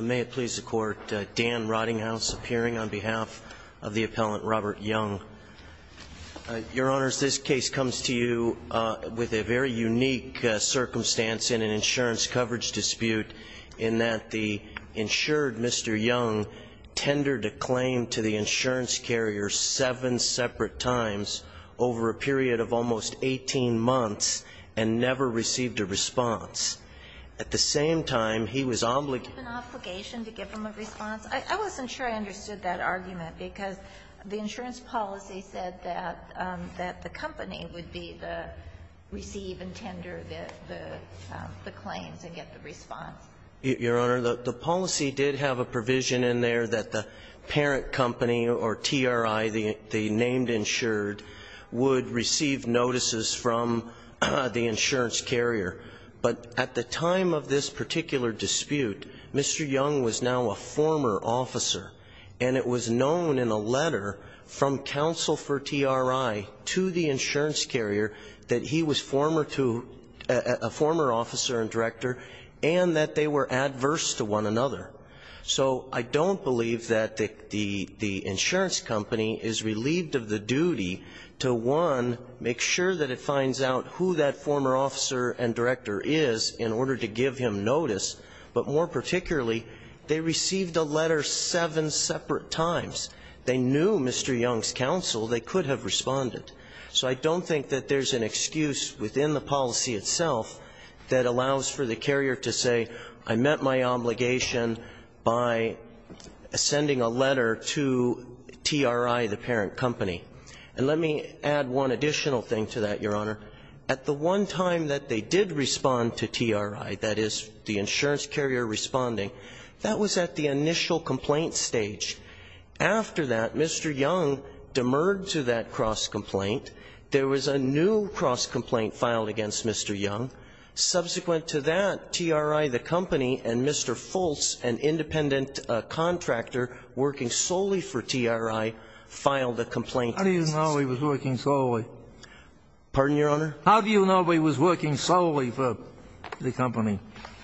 May it please the Court, Dan Roddinghouse appearing on behalf of the appellant Robert Young. Your Honors, this case comes to you with a very unique circumstance in an insurance coverage dispute in that the insured Mr. Young tendered a claim to the insurance carrier seven separate times over a period of almost 18 months and never received a response. At the same time, he was obligated to give him a response. I wasn't sure I understood that argument, because the insurance policy said that the company would be the receive and tender the claims and get the response. Your Honor, the policy did have a provision in there that the parent company or TRI, the named insured, would receive notices from the insurance carrier. But at the time of this particular dispute, Mr. Young was now a former officer. And it was known in a letter from counsel for TRI to the insurance carrier that he was former to a former officer and director and that they were adverse to one another. So I don't believe that the insurance company is relieved of the duty to, one, make sure that it finds out who that former officer and director is in order to give him notice. But more particularly, they received a letter seven separate times. They knew Mr. Young's counsel. They could have responded. So I don't think that there's an excuse within the policy itself that allows for the carrier to say, I met my obligation by sending a letter to TRI, the parent company. And let me add one additional thing to that, Your Honor. At the one time that they did respond to TRI, that is, the insurance carrier responding, that was at the initial complaint stage. After that, Mr. Young demurred to that cross-complaint. There was a new cross-complaint filed against Mr. Young. Subsequent to that, TRI, the company, and Mr. Fultz, an independent contractor working solely for TRI, filed a complaint. How do you know he was working solely? Pardon, Your Honor? How do you know he was working solely for the company?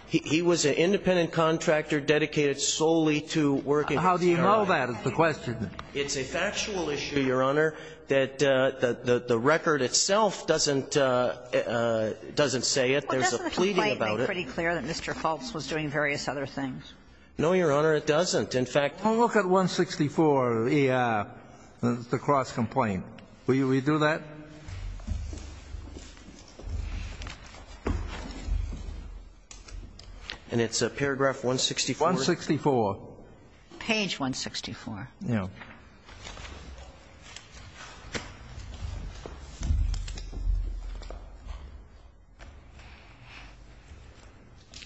He was an independent contractor dedicated solely to working for TRI. How do you know that is the question? It's a factual issue, Your Honor, that the record itself doesn't say it. There's a pleading about it. Doesn't the complaint make pretty clear that Mr. Fultz was doing various other things? No, Your Honor, it doesn't. In fact the cross-complaint. Will you redo that? And it's paragraph 164? 164. Page 164.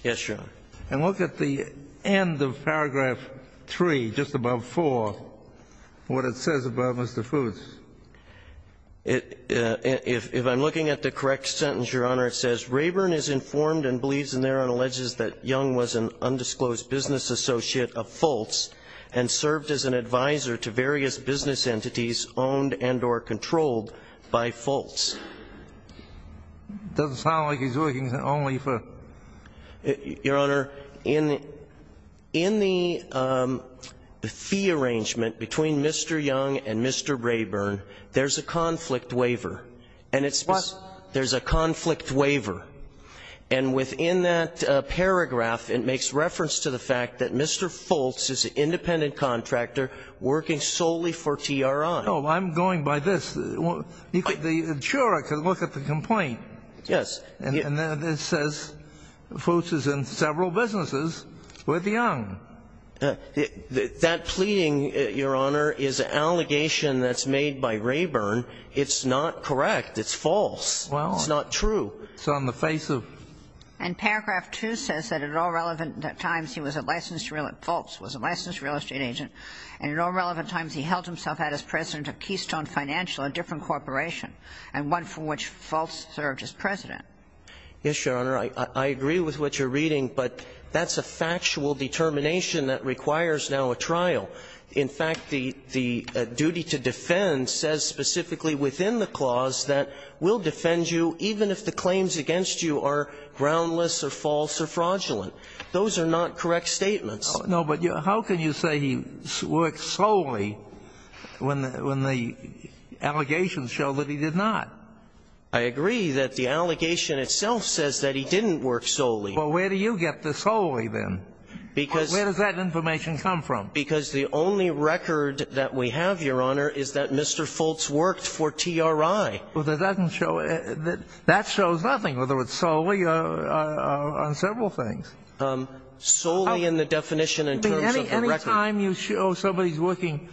Yes, Your Honor. And look at the end of paragraph 3, just above 4, what it says about Mr. Fultz. If I'm looking at the correct sentence, Your Honor, it says, It doesn't sound like he's working only for. Your Honor, in the fee arrangement between Mr. Young and Mr. Rayburn, there's a conflict waiver. What? There's a conflict waiver. And within that paragraph, it makes reference to the fact that Mr. Fultz is an independent contractor working solely for TRI. No, I'm going by this. The juror can look at the complaint. Yes. And it says Fultz is in several businesses with Young. That pleading, Your Honor, is an allegation that's made by Rayburn. It's not correct. It's false. It's not true. It's on the face of. And paragraph 2 says that at all relevant times he was a licensed real estate agent, Fultz was a licensed real estate agent, and at all relevant times he held himself as president of Keystone Financial, a different corporation, and one from which Fultz served as president. Yes, Your Honor. I agree with what you're reading, but that's a factual determination that requires now a trial. In fact, the duty to defend says specifically within the clause that we'll defend you even if the claims against you are groundless or false or fraudulent. Those are not correct statements. No, but how can you say he worked solely when the allegations show that he did not? I agree that the allegation itself says that he didn't work solely. Well, where do you get the solely, then? Because the only record that we have, Your Honor, is that Mr. Fultz worked for TRI. Well, that doesn't show it. That shows nothing whether it's solely or on several things. Solely in the definition in terms of the record. Any time you show somebody's working,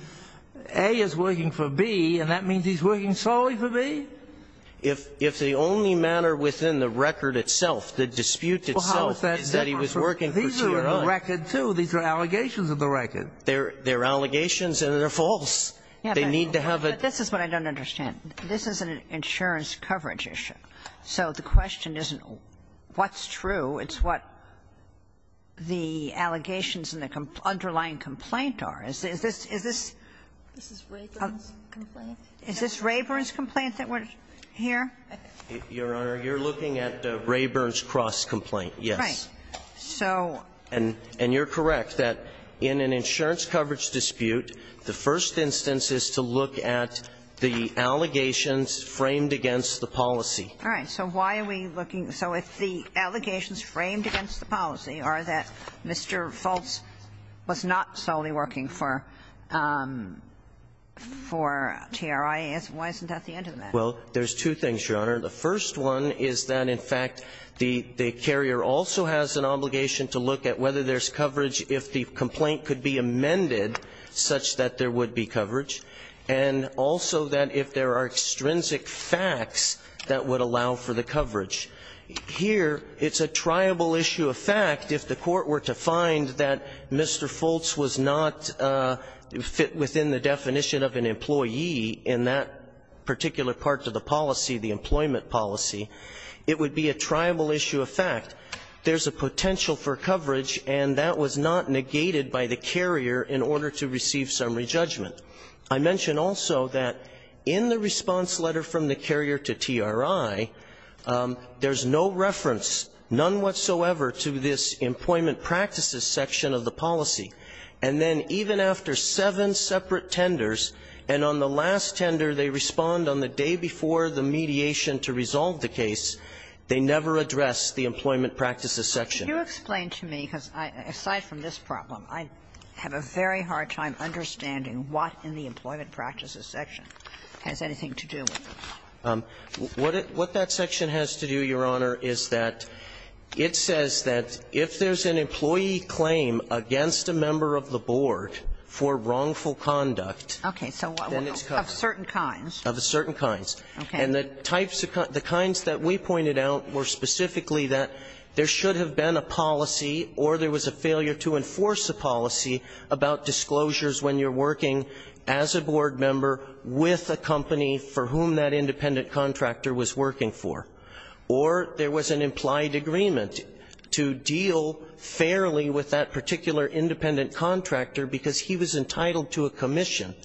A is working for B, and that means he's working solely for B? If the only matter within the record itself, the dispute itself, is that he was working for TRI. These are in the record, too. These are allegations in the record. They're allegations and they're false. They need to have a ---- But this is what I don't understand. This is an insurance coverage issue. So the question isn't what's true. It's what the allegations and the underlying complaint are. Is this Rayburn's complaint that we're here? Your Honor, you're looking at Rayburn's cross-complaint, yes. Right. So ---- And you're correct that in an insurance coverage dispute, the first instance is to look at the allegations framed against the policy. All right. So why are we looking? So if the allegations framed against the policy are that Mr. Foltz was not solely working for TRI, why isn't that the end of that? Well, there's two things, Your Honor. The first one is that, in fact, the carrier also has an obligation to look at whether there's coverage if the complaint could be amended such that there would be coverage, and also that if there are extrinsic facts that would allow for the coverage. Here it's a triable issue of fact if the court were to find that Mr. Foltz was not within the definition of an employee in that particular part of the policy, the employment policy, there's a potential for coverage, and that was not negated by the carrier in order to receive summary judgment. I mention also that in the response letter from the carrier to TRI, there's no reference, none whatsoever, to this employment practices section of the policy. And then even after seven separate tenders, and on the last tender they respond on the day before the mediation to resolve the case, they never address the employment practices section. Can you explain to me, because aside from this problem, I have a very hard time understanding what in the employment practices section has anything to do with this? What that section has to do, Your Honor, is that it says that if there's an employee claim against a member of the board for wrongful conduct, then it's covered. Okay. So of certain kinds. Of certain kinds. Okay. And the types, the kinds that we pointed out were specifically that there should have been a policy or there was a failure to enforce a policy about disclosures when you're working as a board member with a company for whom that independent contractor was working for. Or there was an implied agreement to deal fairly with that particular independent contractor because he was entitled to a commission.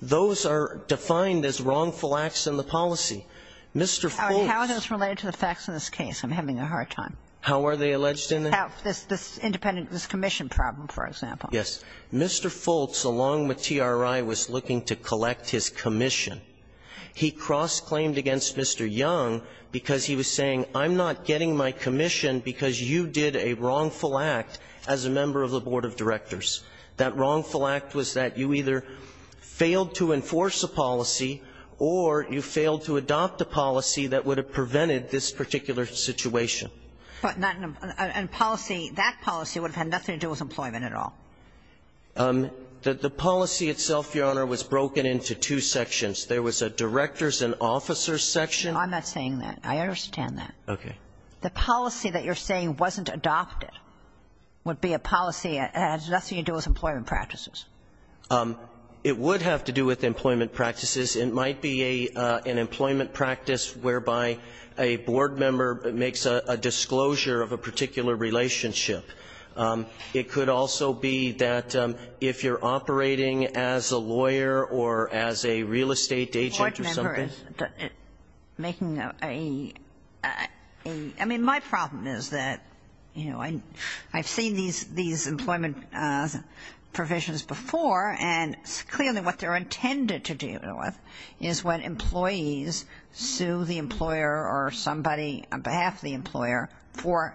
Those are defined as wrongful acts in the policy. Mr. Foltz. How are those related to the facts in this case? I'm having a hard time. How are they alleged in the case? This commission problem, for example. Yes. Mr. Foltz, along with TRI, was looking to collect his commission. He cross-claimed against Mr. Young because he was saying, I'm not getting my commission because you did a wrongful act as a member of the board of directors. That wrongful act was that you either failed to enforce a policy or you failed to adopt a policy that would have prevented this particular situation. But not in a policy. That policy would have had nothing to do with employment at all. The policy itself, Your Honor, was broken into two sections. There was a director's and officer's section. I'm not saying that. I understand that. Okay. The policy that you're saying wasn't adopted would be a policy that has nothing to do with employment practices. It would have to do with employment practices. It might be an employment practice whereby a board member makes a disclosure of a particular relationship. It could also be that if you're operating as a lawyer or as a real estate agent or something. I mean, my problem is that, you know, I've seen these employment provisions before, and clearly what they're intended to deal with is when employees sue the employer or somebody on behalf of the employer for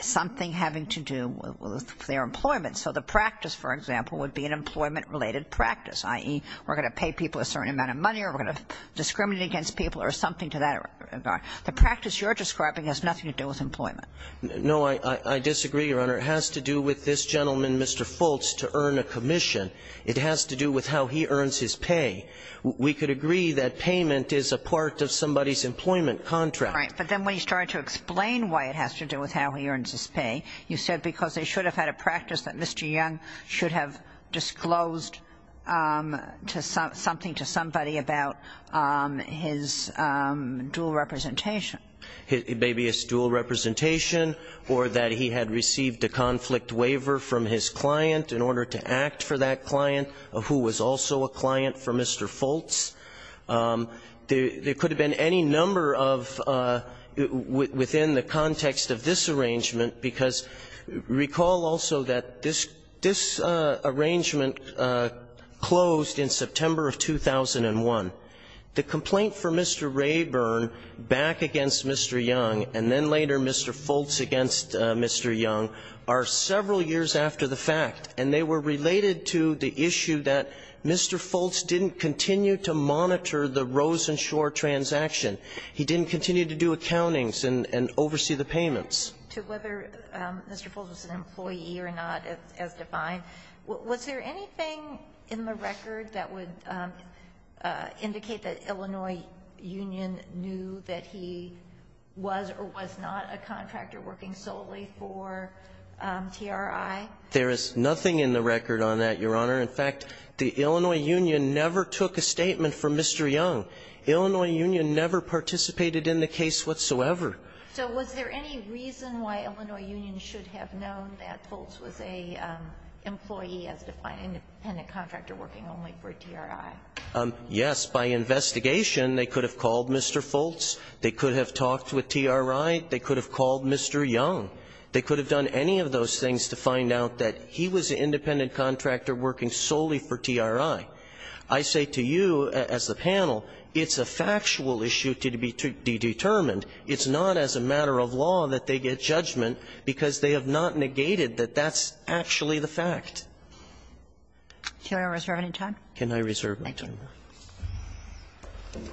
something having to do with their employment. So the practice, for example, would be an employment-related practice, i.e., we're going to pay people a certain amount of money or we're going to discriminate against people or something to that regard. The practice you're describing has nothing to do with employment. No, I disagree, Your Honor. It has to do with this gentleman, Mr. Fultz, to earn a commission. It has to do with how he earns his pay. We could agree that payment is a part of somebody's employment contract. Right. But then when you started to explain why it has to do with how he earns his pay, you said because they should have had a practice that Mr. Young should have disclosed something to somebody about his dual representation. It may be his dual representation or that he had received a conflict waiver from his client in order to act for that client, who was also a client for Mr. Fultz. There could have been any number of, within the context of this arrangement because recall also that this arrangement closed in September of 2001. The complaint for Mr. Rayburn back against Mr. Young and then later Mr. Fultz against Mr. Young are several years after the fact, and they were related to the issue that Mr. Fultz didn't continue to monitor the Rosenshore transaction. He didn't continue to do accountings and oversee the payments. To whether Mr. Fultz was an employee or not as defined, was there anything in the record that would indicate that Illinois Union knew that he was or was not a contractor working solely for TRI? There is nothing in the record on that, Your Honor. In fact, the Illinois Union never took a statement from Mr. Young. Illinois Union never participated in the case whatsoever. So was there any reason why Illinois Union should have known that Fultz was an employee as defined, an independent contractor working only for TRI? Yes. By investigation, they could have called Mr. Fultz. They could have talked with TRI. They could have called Mr. Young. They could have done any of those things to find out that he was an independent contractor working solely for TRI. I say to you as a panel, it's a factual issue to be determined. It's not as a matter of law that they get judgment because they have not negated that that's actually the fact. Can I reserve my time? Can I reserve my time? Thank you.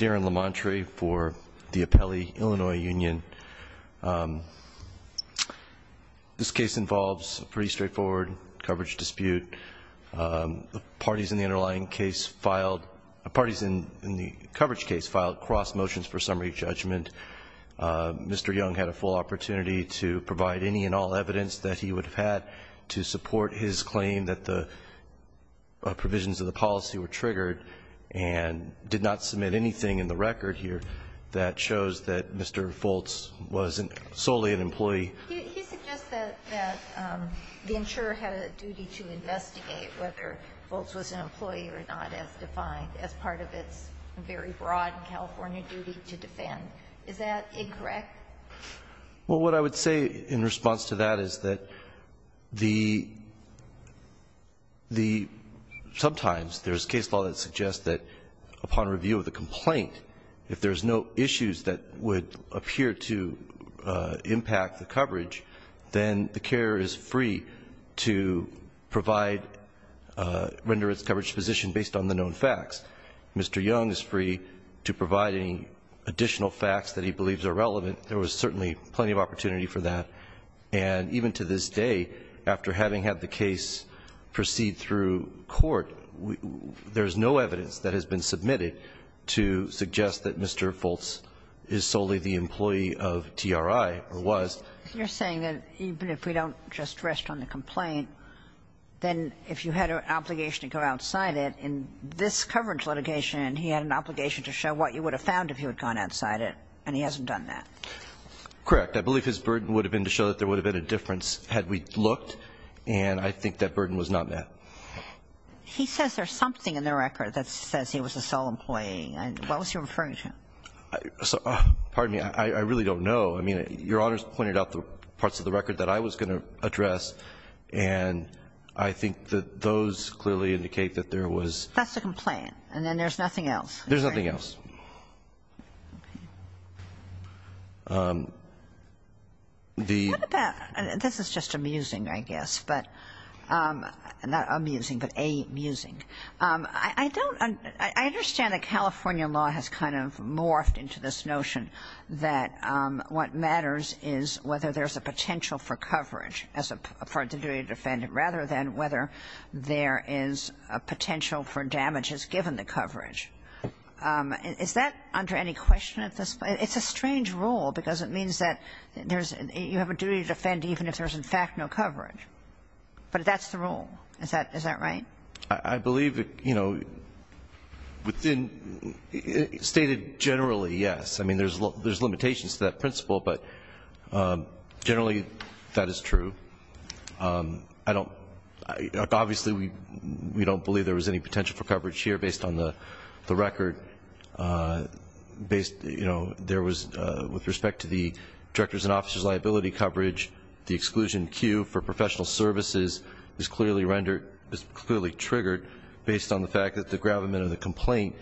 Darren LaMontre for the Appellee, Illinois Union. This case involves a pretty straightforward coverage dispute. Parties in the underlying case filed, parties in the coverage case filed cross motions for summary judgment. Mr. Young had a full opportunity to provide any and all evidence that he would have had to support his claim that the provisions of the policy were triggered and did not submit anything in the record here that shows that Mr. Fultz was solely an employee. He suggests that the insurer had a duty to investigate whether Fultz was an employee or not as defined as part of its very broad California duty to defend. Is that incorrect? Well, what I would say in response to that is that sometimes there's case law that suggests that upon review of the complaint, if there's no issues that would appear to impact the coverage, then the carer is free to provide, render its coverage position based on the known facts. Mr. Young is free to provide any additional facts that he believes are relevant. There was certainly plenty of opportunity for that. And even to this day, after having had the case proceed through court, there's no evidence that has been submitted to suggest that Mr. Fultz is solely the employee of TRI or was. You're saying that even if we don't just rest on the complaint, then if you had an obligation to go outside it, in this coverage litigation, he had an obligation to show what you would have found if he had gone outside it, and he hasn't done that? Correct. I believe his burden would have been to show that there would have been a difference had we looked, and I think that burden was not met. He says there's something in the record that says he was a sole employee. What was he referring to? Pardon me. I really don't know. I mean, Your Honors pointed out the parts of the record that I was going to address, and I think that those clearly indicate that there was. That's the complaint. And then there's nothing else. There's nothing else. Okay. What about, this is just amusing, I guess, but, not amusing, but amusing. I don't, I understand that California law has kind of morphed into this notion that what matters is whether there's a potential for coverage as a part of the duty to defend it, rather than whether there is a potential for damages given the coverage. Is that under any question at this point? It's a strange rule, because it means that you have a duty to defend even if there's, in fact, no coverage. But that's the rule. Is that right? I believe that, you know, within, stated generally, yes. I mean, there's limitations to that principle, but generally, that is true. I don't, obviously, we don't believe there was any potential for coverage here, based on the record. Based, you know, there was, with respect to the director's and officer's liability coverage, the exclusion cue for professional services is clearly rendered, is clearly triggered, based on the fact that the gravamen of the complaint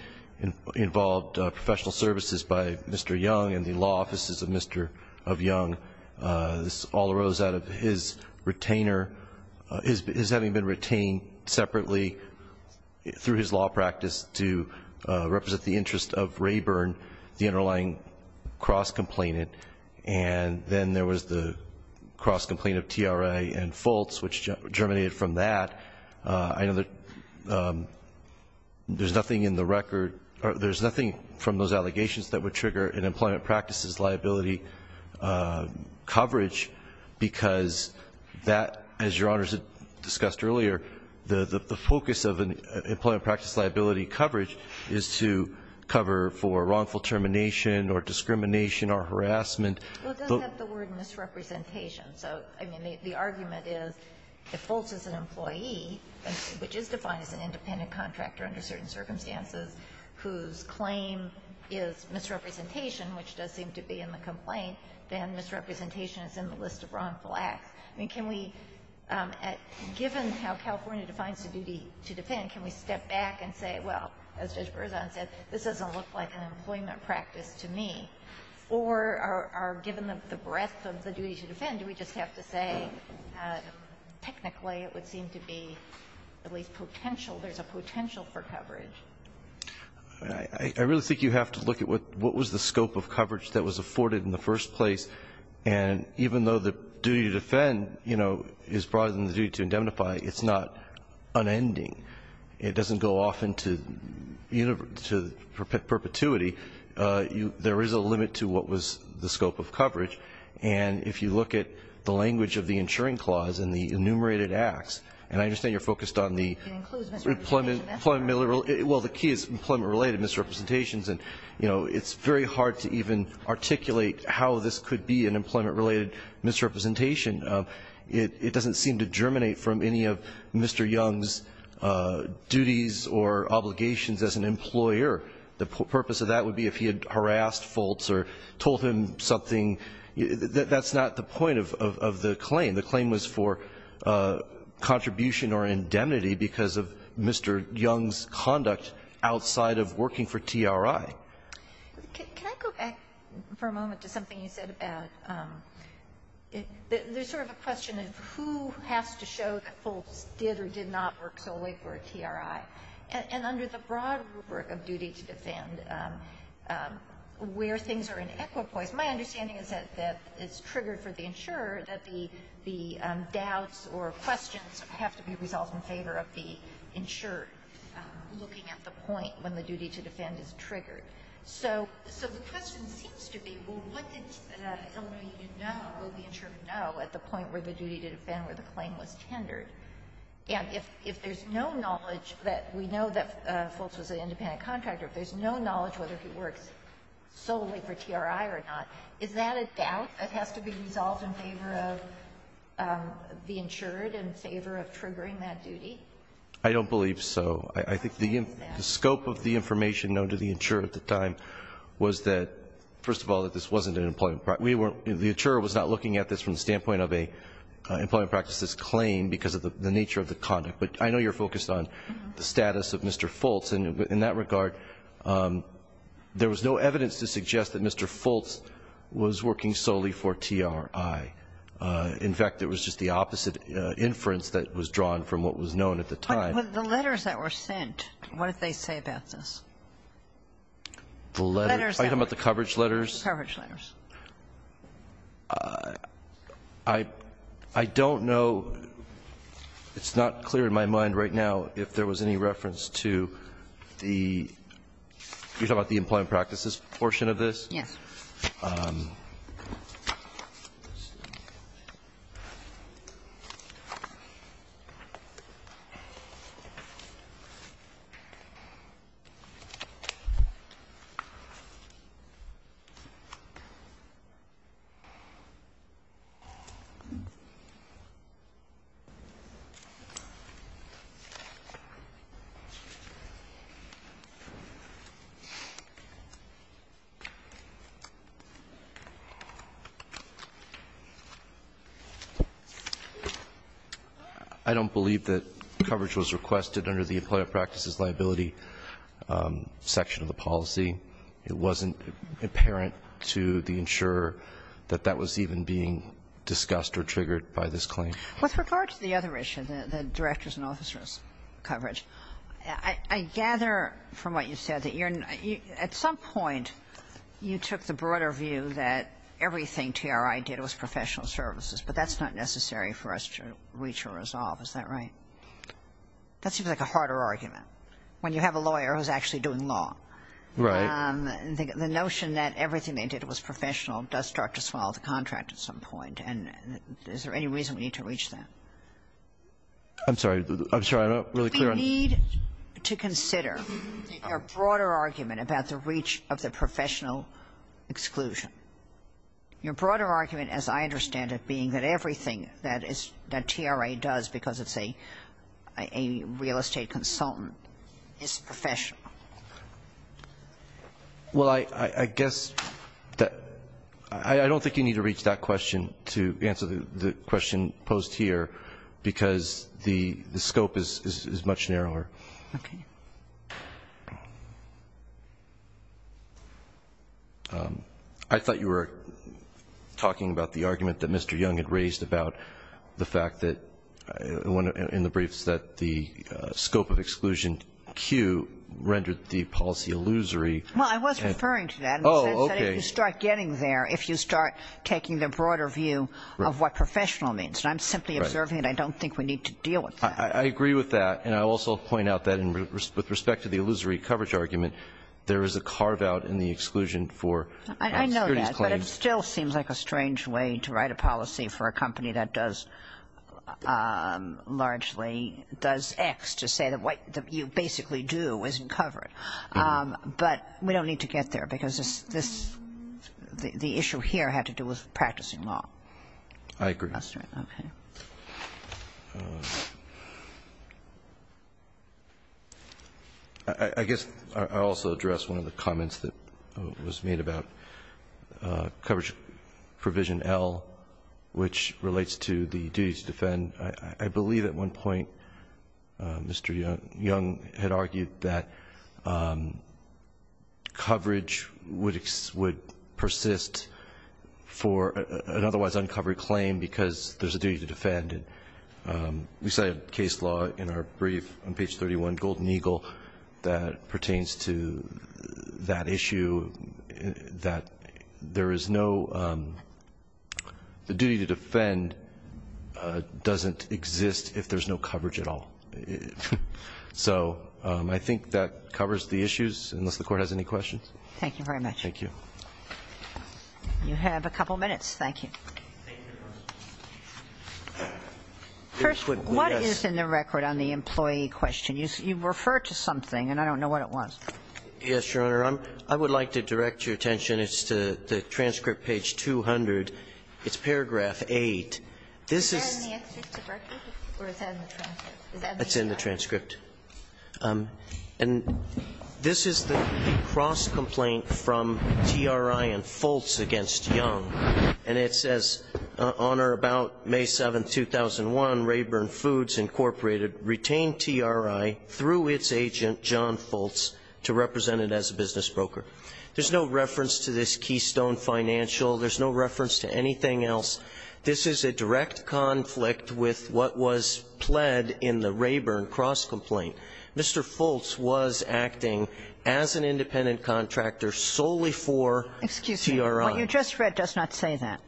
involved professional services by Mr. Young and the law offices of Mr. Young. This all arose out of his retainer, his having been retained separately through his law practice to represent the interest of Rayburn, the underlying cross-complainant. And then there was the cross-complaint of TRA and Fultz, which germinated from that. I know that there's nothing in the record, or there's nothing from those allegations that would trigger an employment practices liability coverage, because that, as Your Honors had discussed earlier, the focus of an employment practice liability coverage is to cover for wrongful termination or discrimination or harassment. Well, it does have the word misrepresentation. So, I mean, the argument is if Fultz is an employee, which is defined as an independent contractor under certain circumstances, whose claim is misrepresentation, which does seem to be in the complaint, then misrepresentation is in the list of wrongful acts. I mean, can we, given how California defines the duty to defend, can we step back and say, well, as Judge Berzon said, this doesn't look like an employment practice to me, or are given the breadth of the duty to defend, do we just have to say technically it would seem to be at least potential, there's a potential for coverage? I really think you have to look at what was the scope of coverage that was afforded in the first place. And even though the duty to defend, you know, is broader than the duty to indemnify, it's not unending. It doesn't go off into perpetuity. There is a limit to what was the scope of coverage. And if you look at the language of the insuring clause and the enumerated acts, and I understand you're focused on the employment, well, the key is employment related misrepresentations. And, you know, it's very hard to even articulate how this could be an employment related misrepresentation. It doesn't seem to germinate from any of Mr. Young's duties or obligations as an employer. The purpose of that would be if he had harassed Foltz or told him something. That's not the point of the claim. The claim was for contribution or indemnity because of Mr. Young's conduct outside of working for TRI. Can I go back for a moment to something you said about there's sort of a question of who has to show that Foltz did or did not work solely for TRI. And under the broad rubric of duty to defend, where things are in equipoise, my understanding is that it's triggered for the insurer that the doubts or questions have to be resolved in favor of the insurer looking at the point when the duty to defend is triggered. So the question seems to be, well, what did Illinois Union know? Will the insurer know at the point where the duty to defend, where the claim was tendered? And if there's no knowledge that we know that Foltz was an independent contractor, if there's no knowledge whether he works solely for TRI or not, is that a doubt that has to be resolved in favor of the insurer, in favor of triggering that duty? I don't believe so. I think the scope of the information known to the insurer at the time was that, first of all, that this wasn't an employment practice. We weren't the insurer was not looking at this from the standpoint of an employment practices claim because of the nature of the conduct. But I know you're focused on the status of Mr. Foltz. And in that regard, there was no evidence to suggest that Mr. Foltz was working solely for TRI. In fact, it was just the opposite inference that was drawn from what was known at the time. But the letters that were sent, what did they say about this? The letters? The letters that were sent. Are you talking about the coverage letters? The coverage letters. I don't know, it's not clear in my mind right now if there was any reference to the, you're talking about the employment practices portion of this? Yes. Okay. I don't believe that coverage was requested under the employment practices liability section of the policy. It wasn't apparent to the insurer that that was even being discussed or triggered by this claim. With regard to the other issue, the directors and officers coverage, I gather from what you said that you're, at some point you took the broader view that everything TRI did was professional services, but that's not necessary for us to reach a resolve. Is that right? That seems like a harder argument when you have a lawyer who's actually doing law. Right. The notion that everything they did was professional does start to swallow the contract at some point. And is there any reason we need to reach that? I'm sorry, I'm sorry, I'm not really clear. You need to consider your broader argument about the reach of the professional exclusion. Your broader argument, as I understand it, being that everything that TRA does because it's a real estate consultant is professional. Well, I guess that I don't think you need to reach that question to answer the question. The scope is much narrower. Okay. I thought you were talking about the argument that Mr. Young had raised about the fact that in the briefs that the scope of exclusion Q rendered the policy illusory. Well, I was referring to that. Oh, okay. You start getting there if you start taking the broader view of what professional means. Right. I'm simply observing it. I don't think we need to deal with that. I agree with that. And I also point out that with respect to the illusory coverage argument, there is a carve-out in the exclusion for securities claims. I know that. But it still seems like a strange way to write a policy for a company that does largely does X to say that what you basically do isn't covered. But we don't need to get there because the issue here had to do with practicing law. I agree. Okay. I guess I'll also address one of the comments that was made about coverage provision L, which relates to the duty to defend. I believe at one point Mr. Young had argued that coverage would persist for an otherwise uncovered claim because there's a duty to defend. We cited case law in our brief on page 31, Golden Eagle, that pertains to that issue that there is no the duty to defend doesn't exist if there's no coverage at all. So I think that covers the issues, unless the Court has any questions. Thank you very much. Thank you. You have a couple minutes. Thank you. First, what is in the record on the employee question? You referred to something, and I don't know what it was. Yes, Your Honor. I would like to direct your attention. It's to the transcript, page 200. It's paragraph 8. This is the transcript. And this is the cross-complaint from TRI and Fultz against Young. And it says, Honor, about May 7, 2001, Rayburn Foods Incorporated retained TRI through its agent, John Fultz, to represent it as a business broker. There's no reference to this Keystone Financial. There's no reference to anything else. This is a direct conflict with what was pled in the Rayburn cross-complaint. Mr. Fultz was acting as an independent contractor solely for TRI. Excuse me. What you just read does not say that.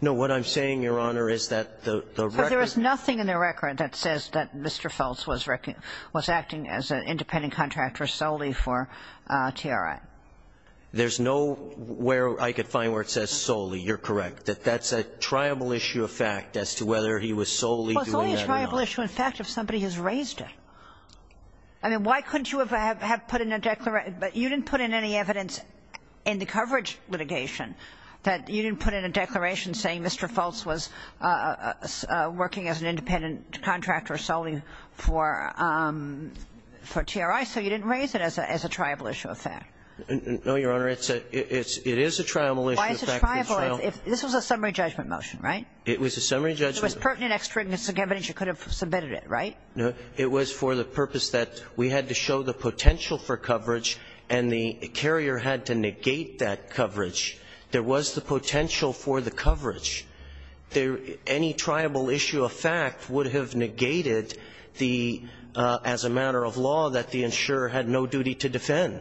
No. What I'm saying, Your Honor, is that the record ---- But there was nothing in the record that says that Mr. Fultz was acting as an independent contractor solely for TRI. There's no where I could find where it says solely. You're correct, that that's a tribal issue of fact as to whether he was solely doing that or not. Well, it's only a tribal issue of fact if somebody has raised it. I mean, why couldn't you have put in a declaration? You didn't put in any evidence in the coverage litigation that you didn't put in a declaration saying Mr. Fultz was working as an independent contractor solely for TRI, so you didn't raise it as a tribal issue of fact. No, Your Honor. It is a tribal issue of fact. Why is it tribal if ---- This was a summary judgment motion, right? It was a summary judgment. It was pertinent extra evidence. You could have submitted it, right? It was for the purpose that we had to show the potential for coverage, and the carrier had to negate that coverage. There was the potential for the coverage. Any tribal issue of fact would have negated the ---- as a matter of law that the insurer had no duty to defend.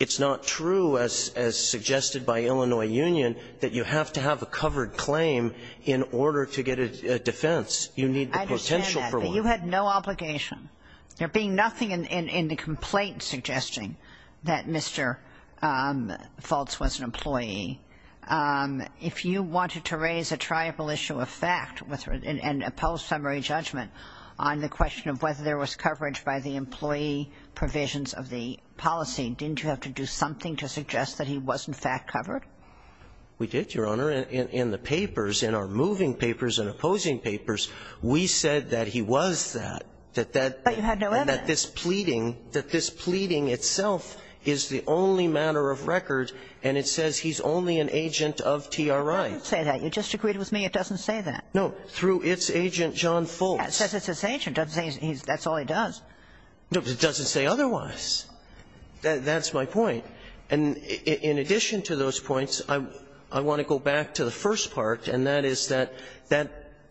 It's not true as suggested by Illinois Union that you have to have a covered claim in order to get a defense. You need the potential for one. I understand that, but you had no obligation. There being nothing in the complaint suggesting that Mr. Fultz was an employee, if you wanted to raise a tribal issue of fact and a post-summary judgment on the question of whether there was coverage by the employee provisions of the policy, didn't you have to do something to suggest that he was, in fact, covered? We did, Your Honor. In the papers, in our moving papers and opposing papers, we said that he was that, that that ---- But you had no evidence. And that this pleading, that this pleading itself is the only matter of record, and it says he's only an agent of TRI. It doesn't say that. You just agreed with me it doesn't say that. No. Through its agent, John Fultz. It says it's his agent. It doesn't say that's all he does. No, but it doesn't say otherwise. That's my point. And in addition to those points, I want to go back to the first part, and that is that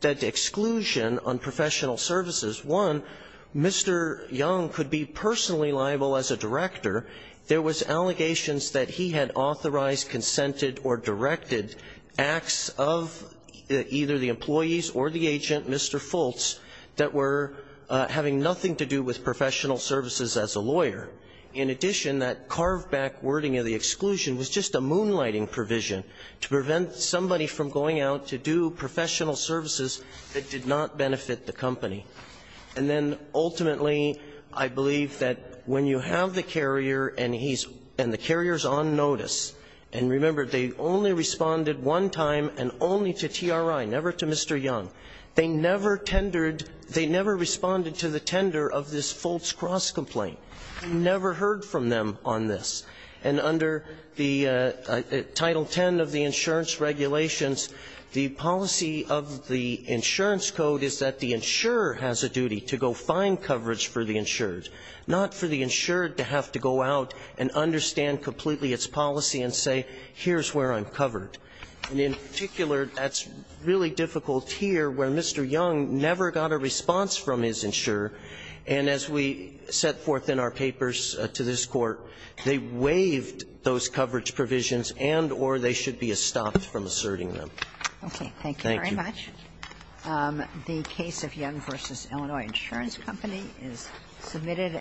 exclusion on professional services. One, Mr. Young could be personally liable as a director. There was allegations that he had authorized, consented or directed acts of either the employees or the agent, Mr. Fultz, that were having nothing to do with professional services as a lawyer. In addition, that carved-back wording of the exclusion was just a moonlighting provision to prevent somebody from going out to do professional services that did not benefit the company. And then, ultimately, I believe that when you have the carrier and he's ---- and the carrier is on notice, and remember, they only responded one time and only to TRI, never to Mr. Young. They never tendered ---- they never responded to the tender of this Fultz cross complaint. We never heard from them on this. And under the Title X of the insurance regulations, the policy of the insurance code is that the insurer has a duty to go find coverage for the insured, not for the insured to have to go out and understand completely its policy and say, here's where I'm covered. And in particular, that's really difficult here where Mr. Young never got a response from his insurer, and as we set forth in our papers to this Court, they waived those coverage provisions and or they should be estopped from asserting them. Thank you. Thank you very much. The case of Young v. Illinois Insurance Company is submitted.